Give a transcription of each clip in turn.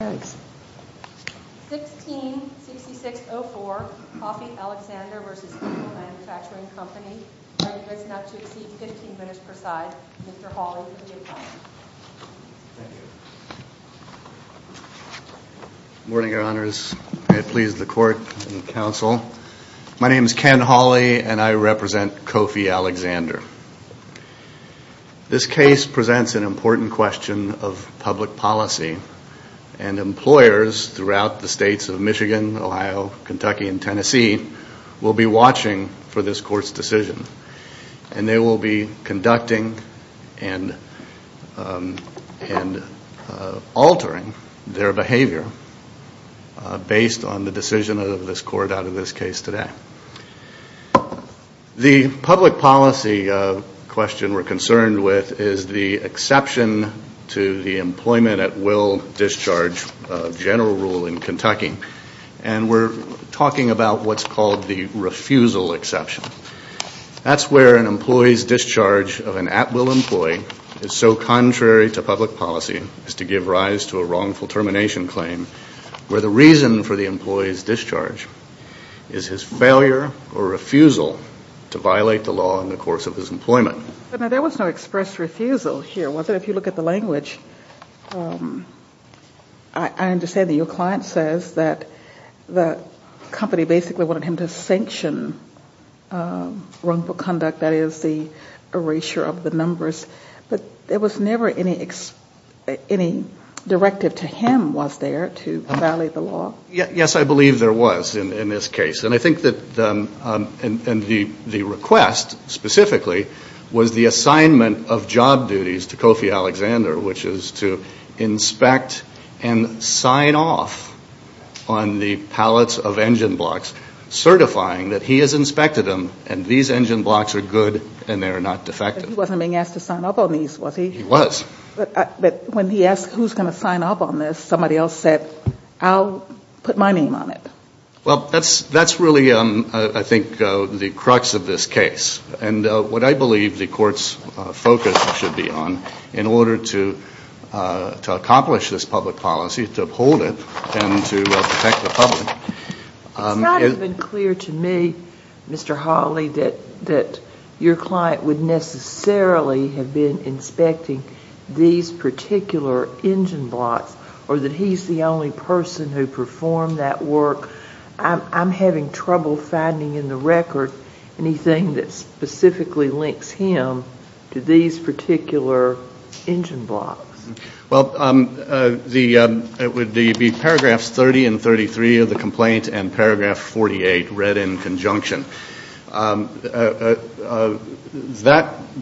166604, Kofi Alexander v. Eagle Manufacturing Company. Language not to exceed 15 minutes per side. Mr. Hawley. Morning, Your Honors. I please the court and counsel. My name is Ken Hawley and I represent Kofi Alexander. This case presents an important question of public policy and employers throughout the states of Michigan, Ohio, Kentucky, and Tennessee will be watching for this court's decision. And they will be conducting and altering their behavior based on the decision of this court out of this case today. The public policy question we're concerned with is the exception to the Employment at Will Discharge general rule in Kentucky. And we're talking about what's called the refusal exception. That's where an employee's discharge of an at-will employee is so contrary to public policy as to give rise to a wrongful termination claim where the reason for the employee's discharge is his failure or refusal to violate the law in the course of his employment. But there was no express refusal here, was there? If you look at the language, I understand that your client says that the company basically wanted him to sanction wrongful conduct, that is, the erasure of the numbers. But there was never any directive to him, was there, to violate the law? Yes, I believe there was in this case. And I think that the request, specifically, was the assignment of job duties to Kofi Alexander, which is to inspect and sign off on the pallets of engine blocks, certifying that he has inspected them and these engine blocks are good and they are not defective. He wasn't being asked to sign up on these, was he? He was. But when he asked who's going to sign up on this, somebody else said, I'll put my name on it. Well, that's really, I think, the crux of this case. And what I believe the Court's focus should be on in order to accomplish this public policy, to uphold it and to protect the public. It's not even clear to me, Mr. Hawley, that your client would necessarily have been inspecting these particular engine blocks or that he's the only person who performed that work. I'm having trouble finding in the record anything that specifically links him to these particular engine blocks. Well, it would be paragraphs 30 and 33 of the complaint and paragraph 48 read in conjunction. That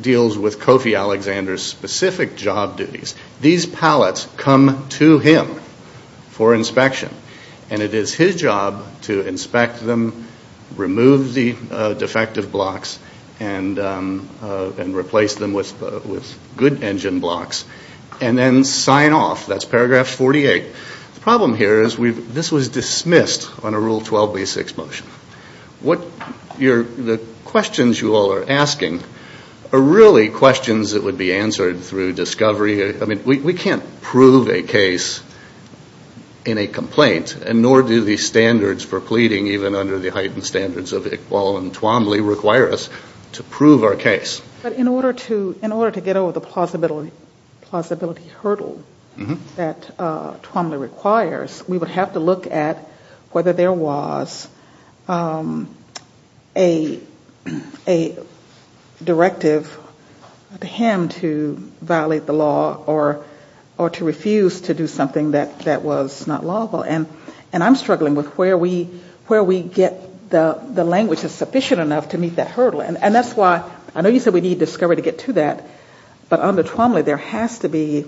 deals with Kofi Alexander's specific job duties. These pallets come to him for inspection. And it is his job to inspect them, remove the defective blocks and replace them with good engine blocks and then sign off. That's paragraph 48. The problem here is this was dismissed on a Rule 12b6 motion. The questions you all are asking are really questions that would be answered through discovery. I mean, we can't prove a case in a complaint, and nor do the standards for pleading, even under the heightened standards of Iqbal and Twombly, require us to prove our case. But in order to get over the plausibility hurdle that Twombly requires, we would have to look at whether there was a directive to him to violate the law or to refuse to do something that was not lawful. And I'm struggling with where we get the language that's sufficient enough to meet that hurdle. And that's why I know you said we need discovery to get to that, but under Twombly there has to be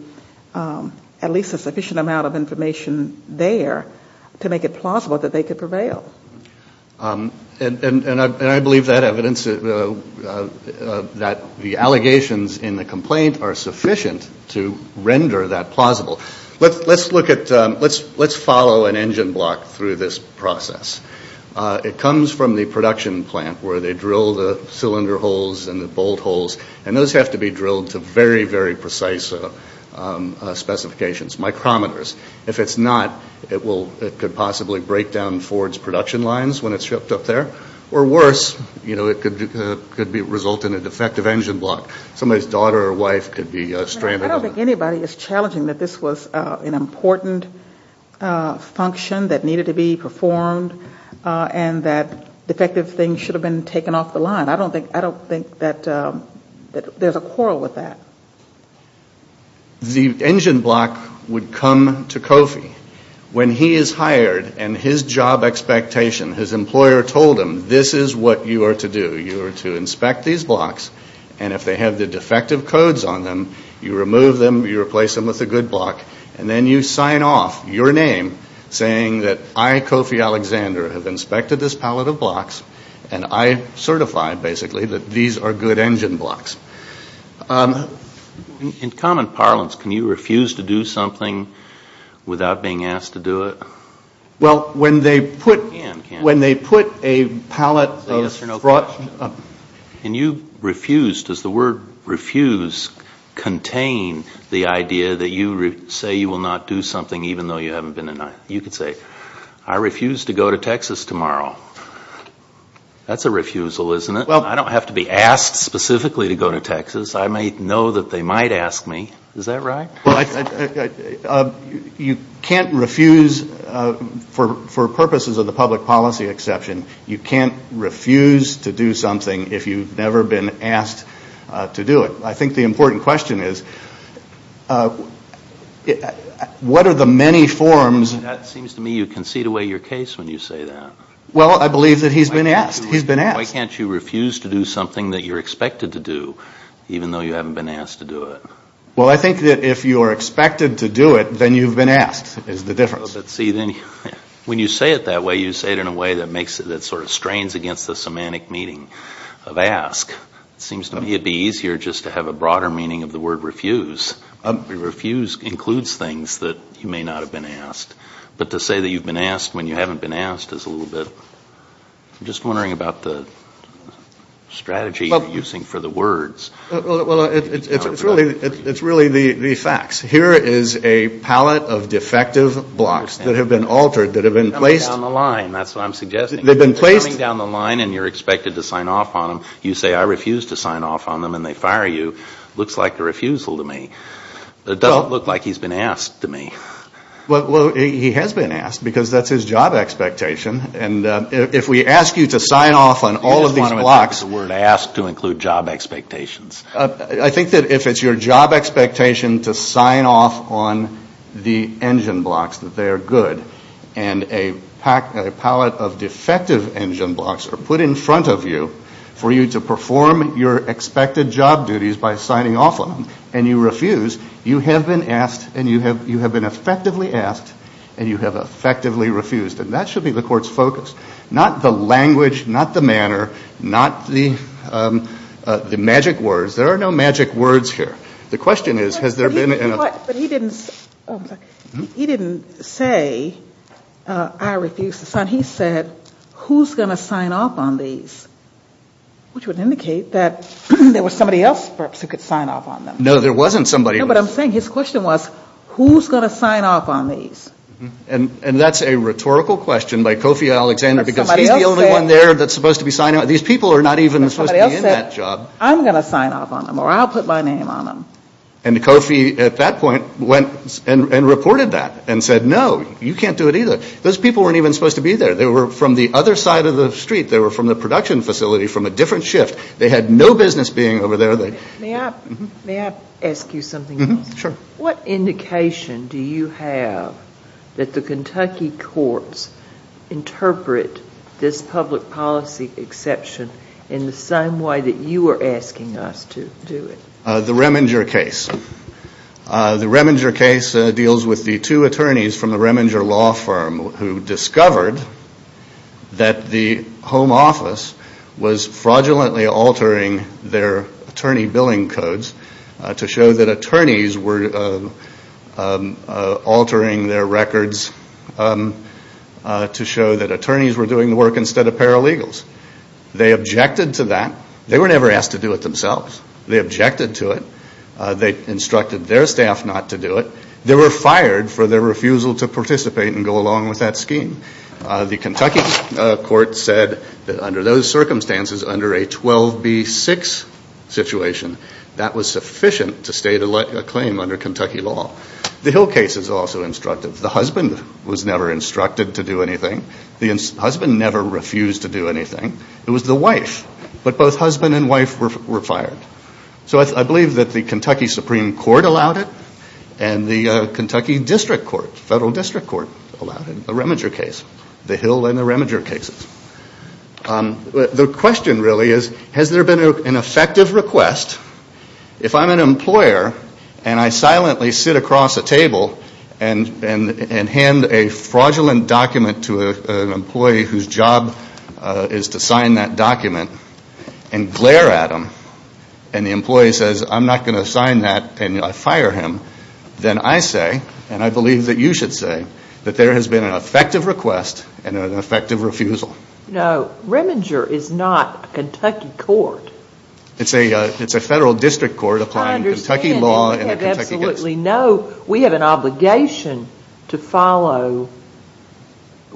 at least a sufficient amount of information there to make it plausible that they could prevail. And I believe that evidence that the allegations in the complaint are sufficient to render that plausible. Let's look at, let's follow an engine block through this process. It comes from the production plant, where they drill the cylinder holes and the bolt holes, and those have to be drilled to very, very precise specifications, micrometers. If it's not, it could possibly break down Ford's production lines when it's shipped up there. Or worse, it could result in a defective engine block. Somebody's daughter or wife could be stranded. I don't think anybody is challenging that this was an important function that needed to be performed, and that defective things should have been taken off the line. I don't think that there's a quarrel with that. The engine block would come to Kofi when he is hired and his job expectation, his employer told him, this is what you are to do. You are to inspect these blocks, and if they have the defective codes on them, you remove them, you replace them with a good block, and then you sign off your name saying that I, Kofi Alexander, have inspected this pallet of blocks, and I certify, basically, that these are good engine blocks. In common parlance, can you refuse to do something without being asked to do it? Well, when they put a pallet of fraught... Can you refuse? Does the word refuse contain the idea that you say you will not do something even though you haven't been denied? You could say, I refuse to go to Texas tomorrow. That's a refusal, isn't it? I don't have to be asked specifically to go to Texas. I may know that they might ask me. Is that right? You can't refuse for purposes of the public policy exception. You can't refuse to do something if you've never been asked to do it. I think the important question is, what are the many forms... It seems to me you concede away your case when you say that. Well, I believe that he's been asked. Why can't you refuse to do something that you're expected to do even though you haven't been asked to do it? Well, I think that if you're expected to do it, then you've been asked is the difference. When you say it that way, you say it in a way that sort of strains against the semantic meaning of ask. It seems to me it'd be easier just to have a broader meaning of the word refuse. Refuse includes things that you may not have been asked. But to say that you've been asked when you haven't been asked is a little bit... I'm just wondering about the strategy you're using for the words. Well, it's really the facts. Here is a palette of defective blocks that have been altered, that have been placed... Coming down the line, that's what I'm suggesting. They've been placed... Coming down the line and you're expected to sign off on them. You say, I refuse to sign off on them, and they fire you. Looks like a refusal to me. It doesn't look like he's been asked to me. Well, he has been asked because that's his job expectation. And if we ask you to sign off on all of these blocks... You just want him to take the word ask to include job expectations. I think that if it's your job expectation to sign off on the engine blocks, that they are good, and a palette of defective engine blocks are put in front of you for you to perform your expected job duties by signing off on them and you refuse, you have been asked and you have been effectively asked and you have effectively refused. And that should be the court's focus. Not the language, not the manner, not the magic words. There are no magic words here. The question is, has there been... But he didn't say, I refuse to sign. He said, who's going to sign off on these? Which would indicate that there was somebody else perhaps who could sign off on them. No, there wasn't somebody else. No, but I'm saying his question was, who's going to sign off on these? And that's a rhetorical question by Kofi Alexander because he's the only one there that's supposed to be signing off. These people are not even supposed to be in that job. Somebody else said, I'm going to sign off on them or I'll put my name on them. And Kofi at that point went and reported that and said, no, you can't do it either. Those people weren't even supposed to be there. They were from the other side of the street. They were from the production facility from a different shift. They had no business being over there. May I ask you something else? Sure. What indication do you have that the Kentucky courts interpret this public policy exception in the same way that you are asking us to do it? The Reminger case. The Reminger case deals with the two attorneys from the Reminger law firm who discovered that the home office was fraudulently altering their attorney billing codes to show that attorneys were altering their records to show that attorneys were doing the work instead of paralegals. They objected to that. They were never asked to do it themselves. They objected to it. They instructed their staff not to do it. They were fired for their refusal to participate and go along with that scheme. The Kentucky court said that under those circumstances, under a 12B6 situation, that was sufficient to state a claim under Kentucky law. The Hill case is also instructive. The husband was never instructed to do anything. The husband never refused to do anything. It was the wife. But both husband and wife were fired. So I believe that the Kentucky Supreme Court allowed it and the Kentucky District Court, Federal District Court, allowed a Reminger case. The Hill and the Reminger cases. The question really is, has there been an effective request? If I'm an employer and I silently sit across a table and hand a fraudulent document to an employee whose job is to sign that document and glare at him and the employee says, I'm not going to sign that and I fire him, then I say, and I believe that you should say, that there has been an effective request and an effective refusal. No, Reminger is not a Kentucky court. It's a Federal District Court applying Kentucky law and a Kentucky district court. We have an obligation to follow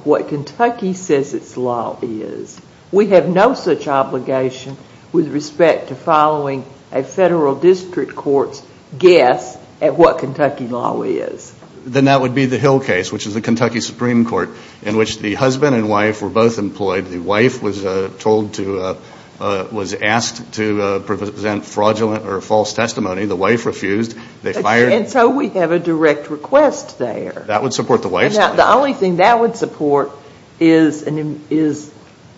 what Kentucky says its law is. We have no such obligation with respect to following a Federal District Court's guess at what Kentucky law is. Then that would be the Hill case, which is the Kentucky Supreme Court, in which the husband and wife were both employed. The wife was asked to present fraudulent or false testimony. The wife refused. And so we have a direct request there. That would support the wife's claim. The only thing that would support is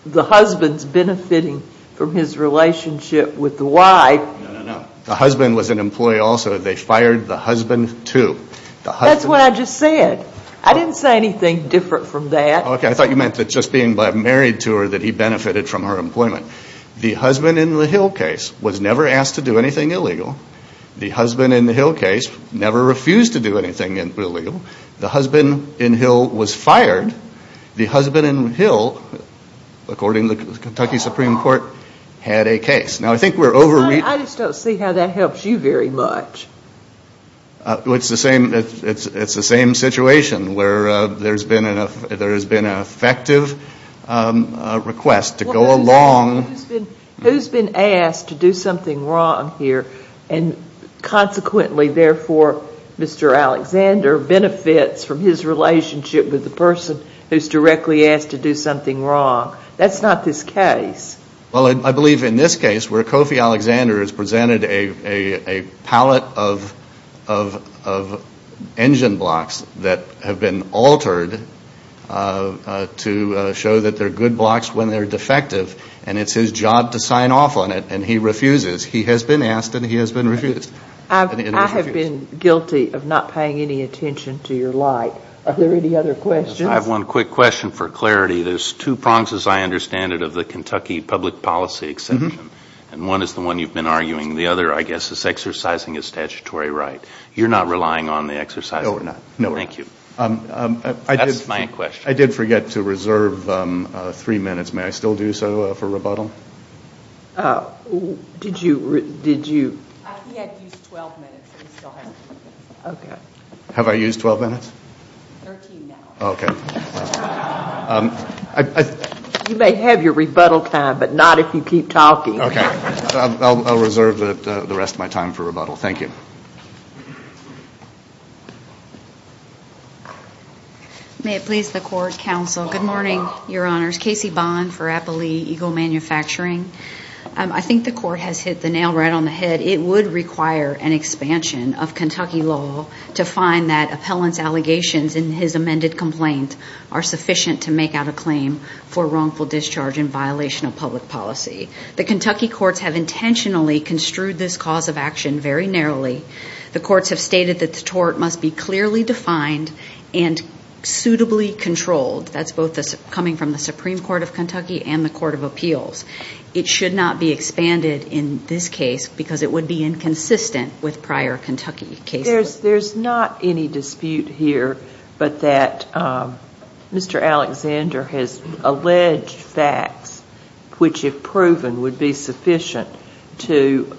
the husband's benefiting from his relationship with the wife. No, no, no. The husband was an employee also. They fired the husband, too. That's what I just said. I didn't say anything different from that. Okay, I thought you meant that just being married to her that he benefited from her employment. The husband in the Hill case was never asked to do anything illegal. The husband in the Hill case never refused to do anything illegal. The husband in Hill was fired. The husband in Hill, according to the Kentucky Supreme Court, had a case. Now, I think we're overreaching. I just don't see how that helps you very much. It's the same situation where there's been an effective request to go along. Who's been asked to do something wrong here, and consequently, therefore, Mr. Alexander benefits from his relationship with the person who's directly asked to do something wrong? That's not this case. Well, I believe in this case where Kofi Alexander has presented a pallet of engine blocks that have been altered to show that they're good blocks when they're defective, and it's his job to sign off on it, and he refuses. He has been asked, and he has been refused. I have been guilty of not paying any attention to your light. Are there any other questions? I have one quick question for clarity. There's two prongs, as I understand it, of the Kentucky public policy exception, and one is the one you've been arguing. The other, I guess, is exercising a statutory right. You're not relying on the exercising? No, we're not. No, we're not. Thank you. That's my question. I did forget to reserve three minutes. May I still do so for rebuttal? Did you? He had to use 12 minutes. Have I used 12 minutes? 13 now. Okay. You may have your rebuttal time, but not if you keep talking. Okay. I'll reserve the rest of my time for rebuttal. Thank you. May it please the Court, Counsel. Good morning, Your Honors. Casey Bond for Applee Eagle Manufacturing. I think the Court has hit the nail right on the head. It would require an expansion of Kentucky law to find that appellant's allegations in his amended complaint are sufficient to make out a claim for wrongful discharge in violation of public policy. The Kentucky courts have intentionally construed this cause of action very narrowly. The courts have stated that the tort must be clearly defined and suitably controlled. That's both coming from the Supreme Court of Kentucky and the Court of Appeals. It should not be expanded in this case because it would be inconsistent with prior Kentucky cases. There's not any dispute here but that Mr. Alexander has alleged facts which, if proven, would be sufficient to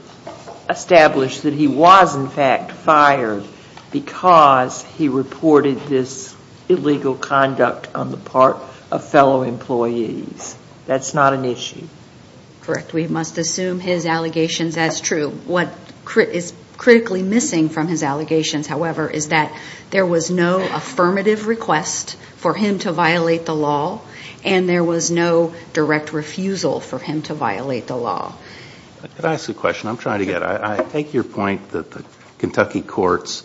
establish that he was, in fact, fired because he reported this illegal conduct on the part of fellow employees. That's not an issue. Correct. We must assume his allegations as true. What is critically missing from his allegations, however, is that there was no affirmative request for him to violate the law and there was no direct refusal for him to violate the law. Can I ask a question? I'm trying to get it. I take your point that the Kentucky courts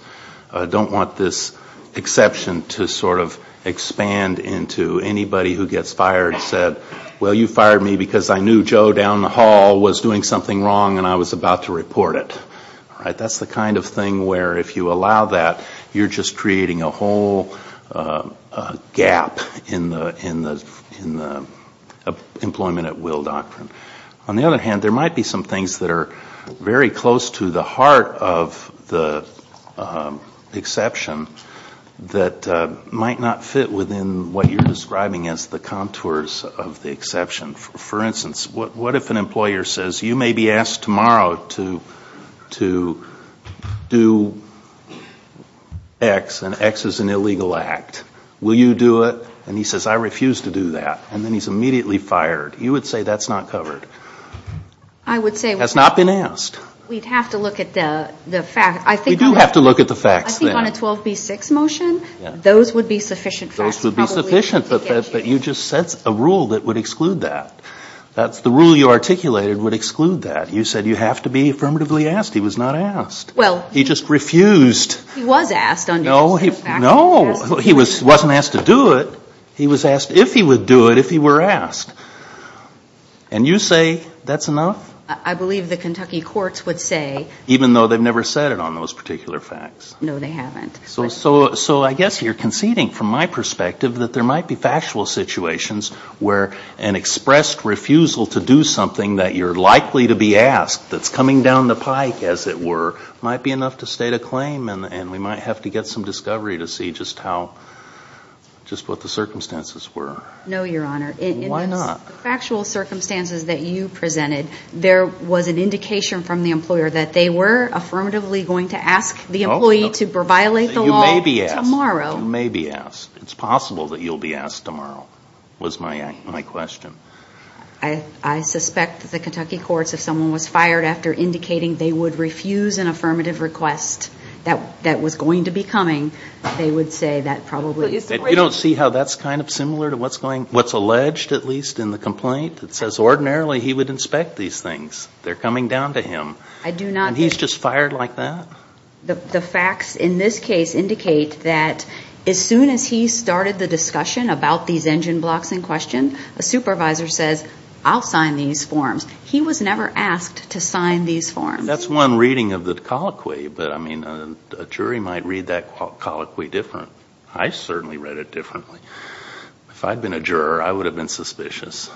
don't want this exception to sort of expand into anybody who gets fired and said, well, you fired me because I knew Joe down the hall was doing something wrong and I was about to report it. That's the kind of thing where if you allow that, you're just creating a whole gap in the employment at will doctrine. On the other hand, there might be some things that are very close to the heart of the exception that might not fit within what you're describing as the contours of the exception. For instance, what if an employer says, you may be asked tomorrow to do X and X is an illegal act. Will you do it? And he says, I refuse to do that. And then he's immediately fired. You would say that's not covered. I would say. That's not been asked. We'd have to look at the facts. We do have to look at the facts. I think on a 12B6 motion, those would be sufficient facts. Those would be sufficient, but you just set a rule that would exclude that. That's the rule you articulated would exclude that. You said you have to be affirmatively asked. He was not asked. He just refused. He was asked. No, he wasn't asked to do it. He was asked if he would do it, if he were asked. And you say that's enough? I believe the Kentucky courts would say. Even though they've never said it on those particular facts. No, they haven't. So I guess you're conceding from my perspective that there might be factual situations where an expressed refusal to do something that you're likely to be asked that's coming down the pike, as it were, might be enough to state a claim. And we might have to get some discovery to see just what the circumstances were. No, Your Honor. Why not? The factual circumstances that you presented, there was an indication from the employer that they were affirmatively going to ask the employee to violate the law tomorrow. You may be asked. You may be asked. It's possible that you'll be asked tomorrow, was my question. I suspect that the Kentucky courts, if someone was fired after indicating they would refuse an affirmative request that was going to be coming, they would say that probably. You don't see how that's kind of similar to what's going, what's alleged at least in the complaint? It says ordinarily he would inspect these things. They're coming down to him. I do not. And he's just fired like that? The facts in this case indicate that as soon as he started the discussion about these engine blocks in question, a supervisor says, I'll sign these forms. He was never asked to sign these forms. That's one reading of the colloquy, but, I mean, a jury might read that colloquy different. I certainly read it differently. If I'd been a juror, I would have been suspicious.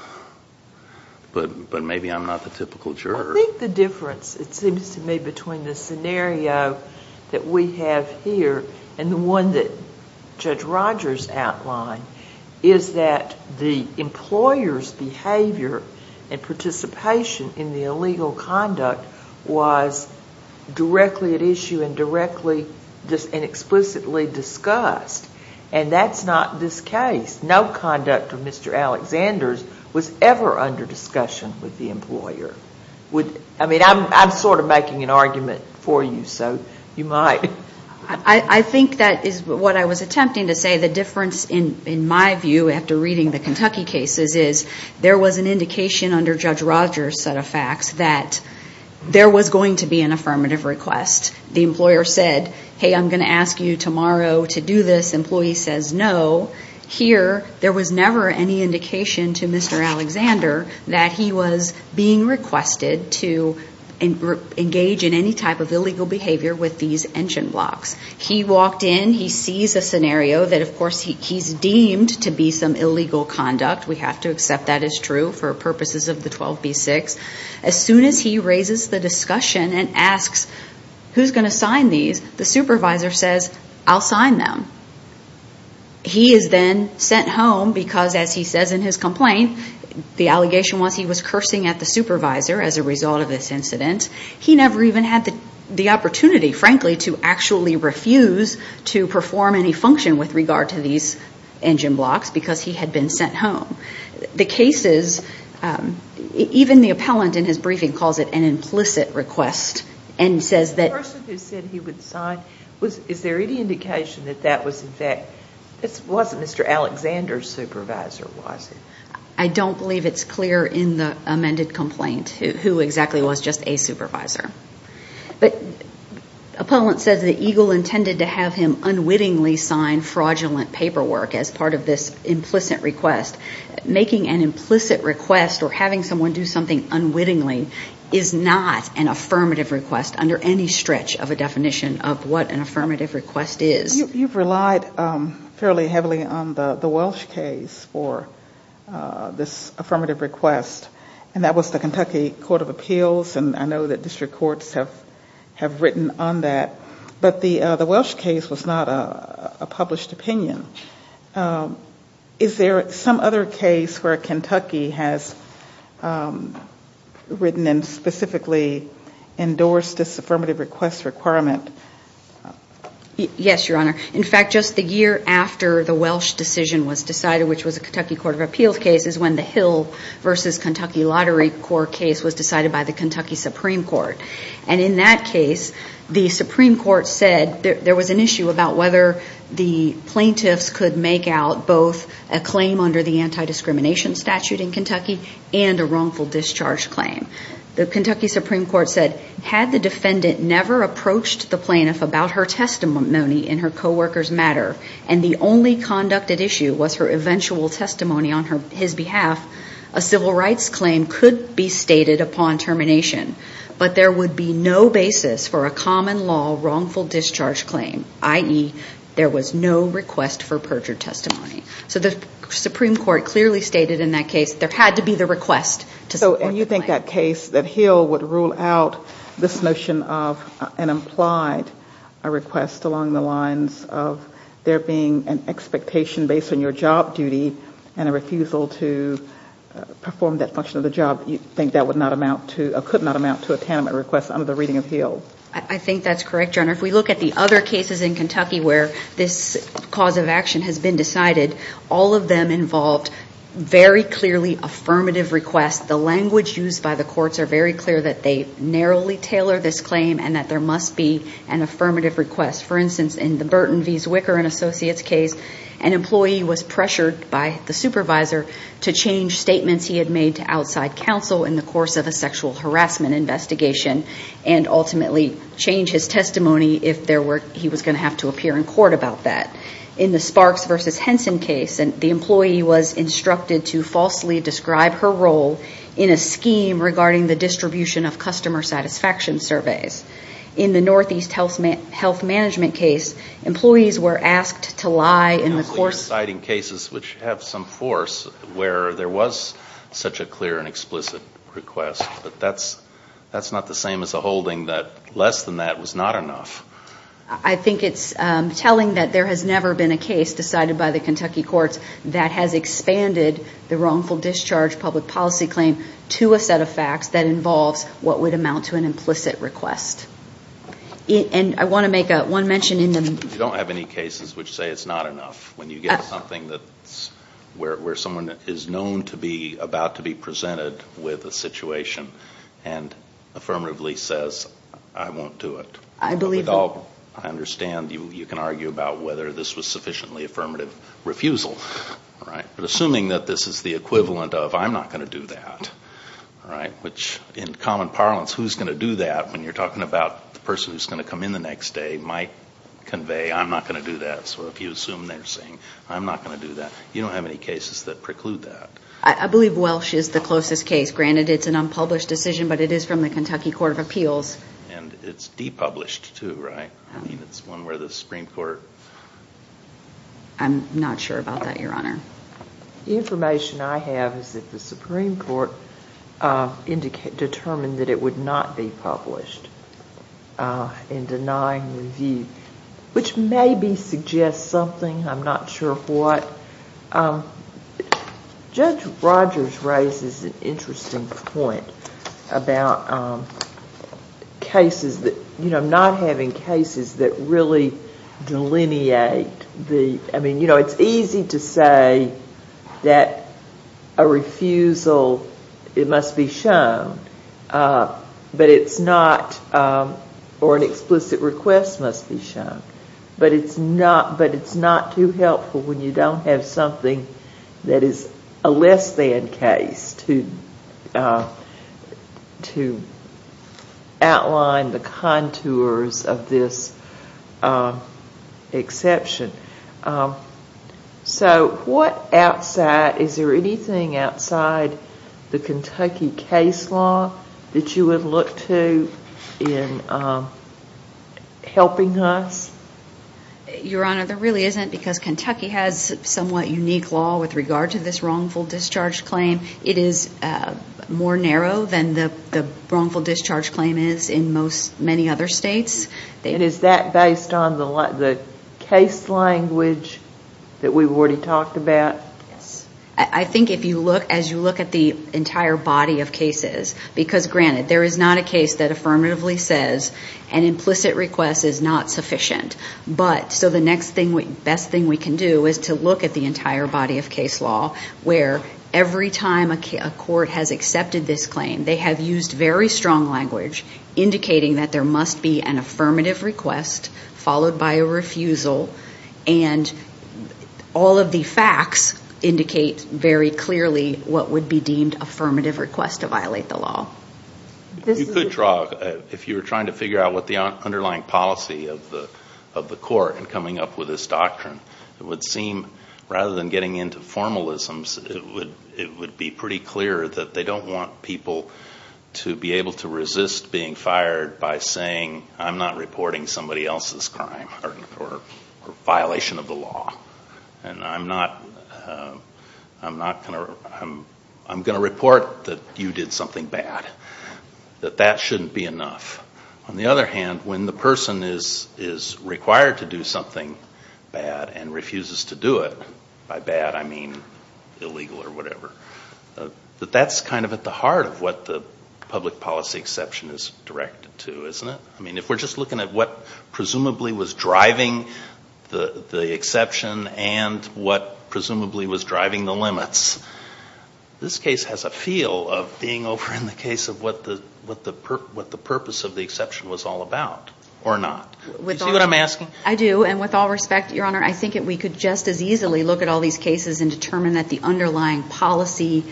But maybe I'm not the typical juror. I think the difference, it seems to me, between the scenario that we have here and the one that Judge Rogers outlined, is that the employer's behavior and participation in the illegal conduct was directly at issue and explicitly discussed. And that's not this case. No conduct of Mr. Alexander's was ever under discussion with the employer. I mean, I'm sort of making an argument for you, so you might. I think that is what I was attempting to say. The difference, in my view, after reading the Kentucky cases, is there was an indication under Judge Rogers' set of facts that there was going to be an affirmative request. The employer said, hey, I'm going to ask you tomorrow to do this. Employee says, no. Here, there was never any indication to Mr. Alexander that he was being requested to engage in any type of illegal behavior with these engine blocks. He walked in. He sees a scenario that, of course, he's deemed to be some illegal conduct. We have to accept that is true for purposes of the 12b-6. As soon as he raises the discussion and asks who's going to sign these, the supervisor says, I'll sign them. He is then sent home because, as he says in his complaint, the allegation was he was cursing at the supervisor as a result of this incident. He never even had the opportunity, frankly, to actually refuse to perform any function with regard to these engine blocks because he had been sent home. The cases, even the appellant in his briefing calls it an implicit request and says that- The person who said he would sign, is there any indication that that was in fact, it wasn't Mr. Alexander's supervisor, was it? I don't believe it's clear in the amended complaint who exactly was just a supervisor. But appellant says that Eagle intended to have him unwittingly sign fraudulent paperwork as part of this implicit request. Making an implicit request or having someone do something unwittingly is not an affirmative request under any stretch of a definition of what an affirmative request is. You've relied fairly heavily on the Welsh case for this affirmative request. And that was the Kentucky Court of Appeals and I know that district courts have written on that. But the Welsh case was not a published opinion. Is there some other case where Kentucky has written and specifically endorsed this affirmative request requirement? Yes, Your Honor. In fact, just the year after the Welsh decision was decided, which was a Kentucky Court of Appeals case, is when the Hill v. Kentucky Lottery Court case was decided by the Kentucky Supreme Court. And in that case, the Supreme Court said there was an issue about whether the plaintiffs could make out both a claim under the anti-discrimination statute in Kentucky and a wrongful discharge claim. The Kentucky Supreme Court said had the defendant never approached the plaintiff about her testimony in her co-worker's matter and the only conducted issue was her eventual testimony on his behalf, a civil rights claim could be stated upon termination. But there would be no basis for a common law wrongful discharge claim, i.e., there was no request for perjured testimony. So the Supreme Court clearly stated in that case there had to be the request to support the claim. So when you think that case, that Hill would rule out this notion of an implied request along the lines of there being an expectation based on your job duty and a refusal to perform that function of the job, you think that would not amount to or could not amount to a taniment request under the reading of Hill? I think that's correct, Your Honor. If we look at the other cases in Kentucky where this cause of action has been decided, all of them involved very clearly affirmative requests. The language used by the courts are very clear that they narrowly tailor this claim and that there must be an affirmative request. For instance, in the Burton v. Zwicker and Associates case, an employee was pressured by the supervisor to change statements he had made to outside counsel in the course of a sexual harassment investigation and ultimately change his testimony if he was going to have to appear in court about that. In the Sparks v. Henson case, the employee was instructed to falsely describe her role in a scheme regarding the distribution of customer satisfaction surveys. In the Northeast Health Management case, employees were asked to lie in the course... You're citing cases which have some force where there was such a clear and explicit request, but that's not the same as a holding that less than that was not enough. I think it's telling that there has never been a case decided by the Kentucky courts that has expanded the wrongful discharge public policy claim to a set of facts that involves what would amount to an implicit request. And I want to make one mention in the... You don't have any cases which say it's not enough. When you get something where someone is known to be about to be presented with a situation and affirmatively says, I won't do it. I understand you can argue about whether this was sufficiently affirmative refusal. But assuming that this is the equivalent of, I'm not going to do that, which in common parlance, who's going to do that when you're talking about the person who's going to come in the next day might convey, I'm not going to do that. So if you assume they're saying, I'm not going to do that, you don't have any cases that preclude that. I believe Welsh is the closest case. Granted, it's an unpublished decision, but it is from the Kentucky Court of Appeals. And it's depublished too, right? I mean, it's one where the Supreme Court... I'm not sure about that, Your Honor. The information I have is that the Supreme Court determined that it would not be published in denying review, which maybe suggests something. I'm not sure what. Judge Rogers raises an interesting point about cases that, you know, not having cases that really delineate the... I mean, you know, it's easy to say that a refusal, it must be shown, but it's not... or an explicit request must be shown. But it's not too helpful when you don't have something that is a less than case to outline the contours of this exception. So what outside... Your Honor, there really isn't, because Kentucky has somewhat unique law with regard to this wrongful discharge claim. It is more narrow than the wrongful discharge claim is in many other states. And is that based on the case language that we've already talked about? Yes. I think if you look, as you look at the entire body of cases, because granted, there is not a case that affirmatively says an implicit request is not sufficient. So the next best thing we can do is to look at the entire body of case law where every time a court has accepted this claim, they have used very strong language indicating that there must be an affirmative request followed by a refusal. And all of the facts indicate very clearly what would be deemed affirmative request to violate the law. You could draw, if you were trying to figure out what the underlying policy of the court in coming up with this doctrine, it would seem rather than getting into formalisms, it would be pretty clear that they don't want people to be able to resist being fired by saying, I'm not reporting somebody else's crime or violation of the law. And I'm not going to report that you did something bad. That that shouldn't be enough. On the other hand, when the person is required to do something bad and refuses to do it, by bad I mean illegal or whatever, that that's kind of at the heart of what the public policy exception is directed to, isn't it? I mean, if we're just looking at what presumably was driving the exception and what presumably was driving the limits, this case has a feel of being over in the case of what the purpose of the exception was all about, or not. Do you see what I'm asking? I do. And with all respect, Your Honor, I think that we could just as easily look at all these cases and determine that the underlying policy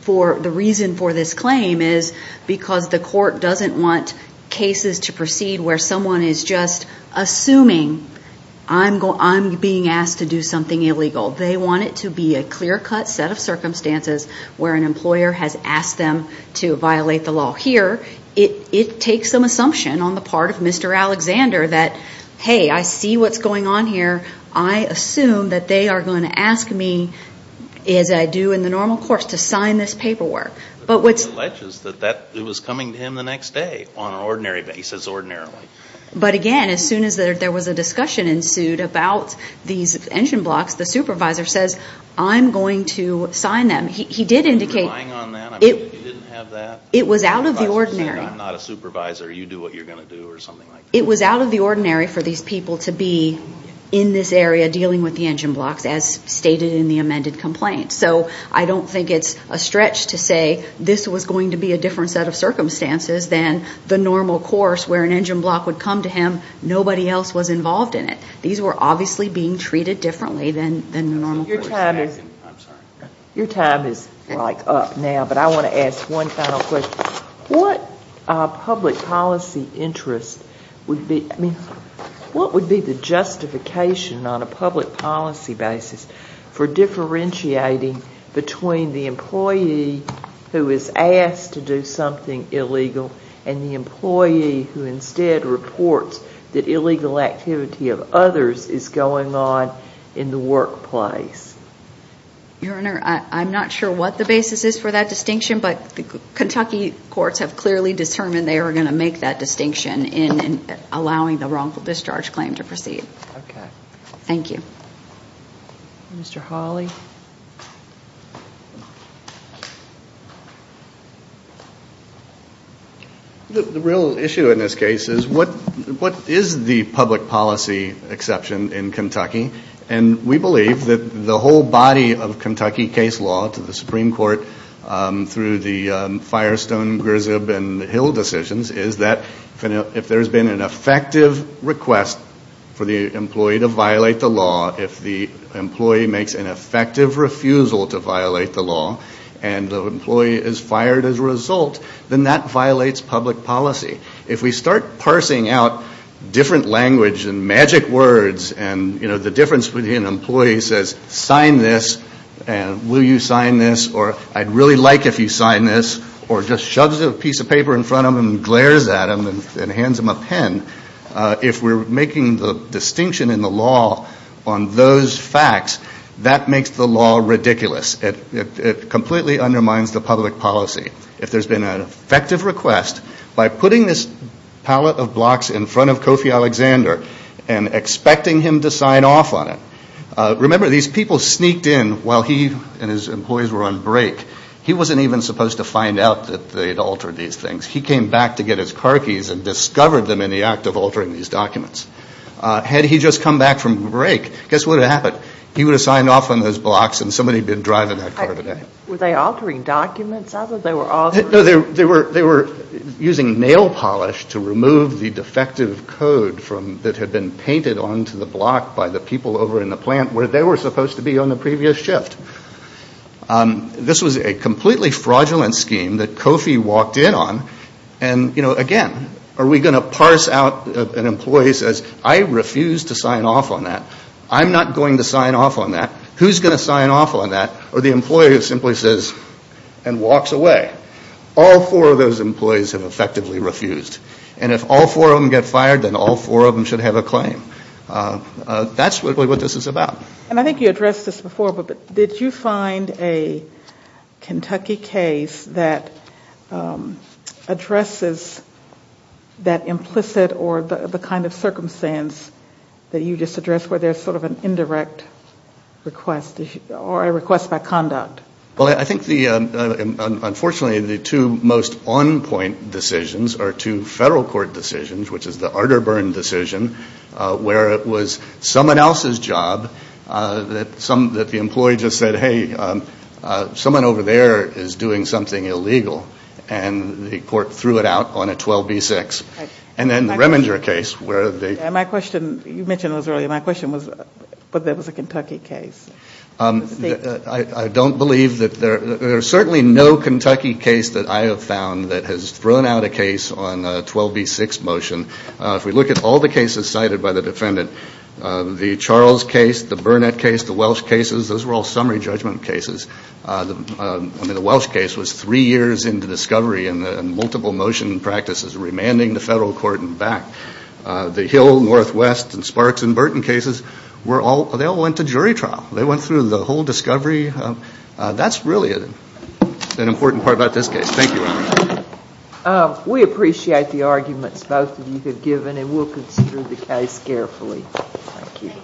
for the reason for this claim is because the court doesn't want cases to proceed where someone is just assuming I'm being asked to do something illegal. They want it to be a clear-cut set of circumstances where an employer has asked them to violate the law. Here, it takes some assumption on the part of Mr. Alexander that, hey, I see what's going on here. I assume that they are going to ask me, as I do in the normal course, to sign this paperwork. The court alleges that it was coming to him the next day on an ordinary basis, ordinarily. But, again, as soon as there was a discussion ensued about these engine blocks, the supervisor says, I'm going to sign them. He did indicate it was out of the ordinary. I'm not a supervisor. You do what you're going to do or something like that. It was out of the ordinary for these people to be in this area dealing with the engine blocks, as stated in the amended complaint. So I don't think it's a stretch to say this was going to be a different set of circumstances than the normal course where an engine block would come to him, nobody else was involved in it. These were obviously being treated differently than the normal course. Your time is right up now, but I want to ask one final question. What public policy interest would be the justification on a public policy basis for differentiating between the employee who is asked to do something illegal and the employee who instead reports that illegal activity of others is going on in the workplace? Your Honor, I'm not sure what the basis is for that distinction, but Kentucky courts have clearly determined they are going to make that distinction in allowing the wrongful discharge claim to proceed. Okay. Thank you. Mr. Hawley. The real issue in this case is what is the public policy exception in Kentucky, and we believe that the whole body of Kentucky case law to the Supreme Court through the Firestone, Griswold, and Hill decisions is that if there has been an effective request for the employee to violate the law, if the employee makes an effective refusal to violate the law, and the employee is fired as a result, then that violates public policy. If we start parsing out different language and magic words, and the difference between an employee who says, sign this, and will you sign this, or I'd really like if you sign this, or just shoves a piece of paper in front of him and glares at him and hands him a pen, if we're making the distinction in the law on those facts, that makes the law ridiculous. It completely undermines the public policy. If there's been an effective request, by putting this pallet of blocks in front of Kofi Alexander and expecting him to sign off on it, remember these people sneaked in while he and his employees were on break. He wasn't even supposed to find out that they had altered these things. He came back to get his car keys and discovered them in the act of altering these documents. Had he just come back from break, guess what would have happened? He would have signed off on those blocks and somebody would have been driving that car today. Were they altering documents? I thought they were altering. No, they were using nail polish to remove the defective code that had been painted onto the block by the people over in the plant where they were supposed to be on the previous shift. This was a completely fraudulent scheme that Kofi walked in on. And again, are we going to parse out an employee who says, I refuse to sign off on that. I'm not going to sign off on that. Who's going to sign off on that? Or the employee who simply says and walks away. All four of those employees have effectively refused. And if all four of them get fired, then all four of them should have a claim. That's really what this is about. And I think you addressed this before, but did you find a Kentucky case that addresses that implicit or the kind of circumstance that you just addressed where there's sort of an indirect request or a request by conduct? Well, I think unfortunately the two most on-point decisions are two federal court decisions, which is the Arterburn decision where it was someone else's job that the employee just said, hey, someone over there is doing something illegal. And the court threw it out on a 12B6. And then the Reminger case where they ---- My question, you mentioned this earlier, my question was whether it was a Kentucky case. I don't believe that there's certainly no Kentucky case that I have found that has thrown out a case on a 12B6 motion. If we look at all the cases cited by the defendant, the Charles case, the Burnett case, the Welsh cases, those were all summary judgment cases. I mean, the Welsh case was three years into discovery and multiple motion practices, remanding the federal court and back. The Hill, Northwest, and Sparks and Burton cases, they all went to jury trial. They went through the whole discovery. That's really an important part about this case. Thank you, Your Honor. We appreciate the arguments both of you have given, and we'll consider the case carefully. Thank you.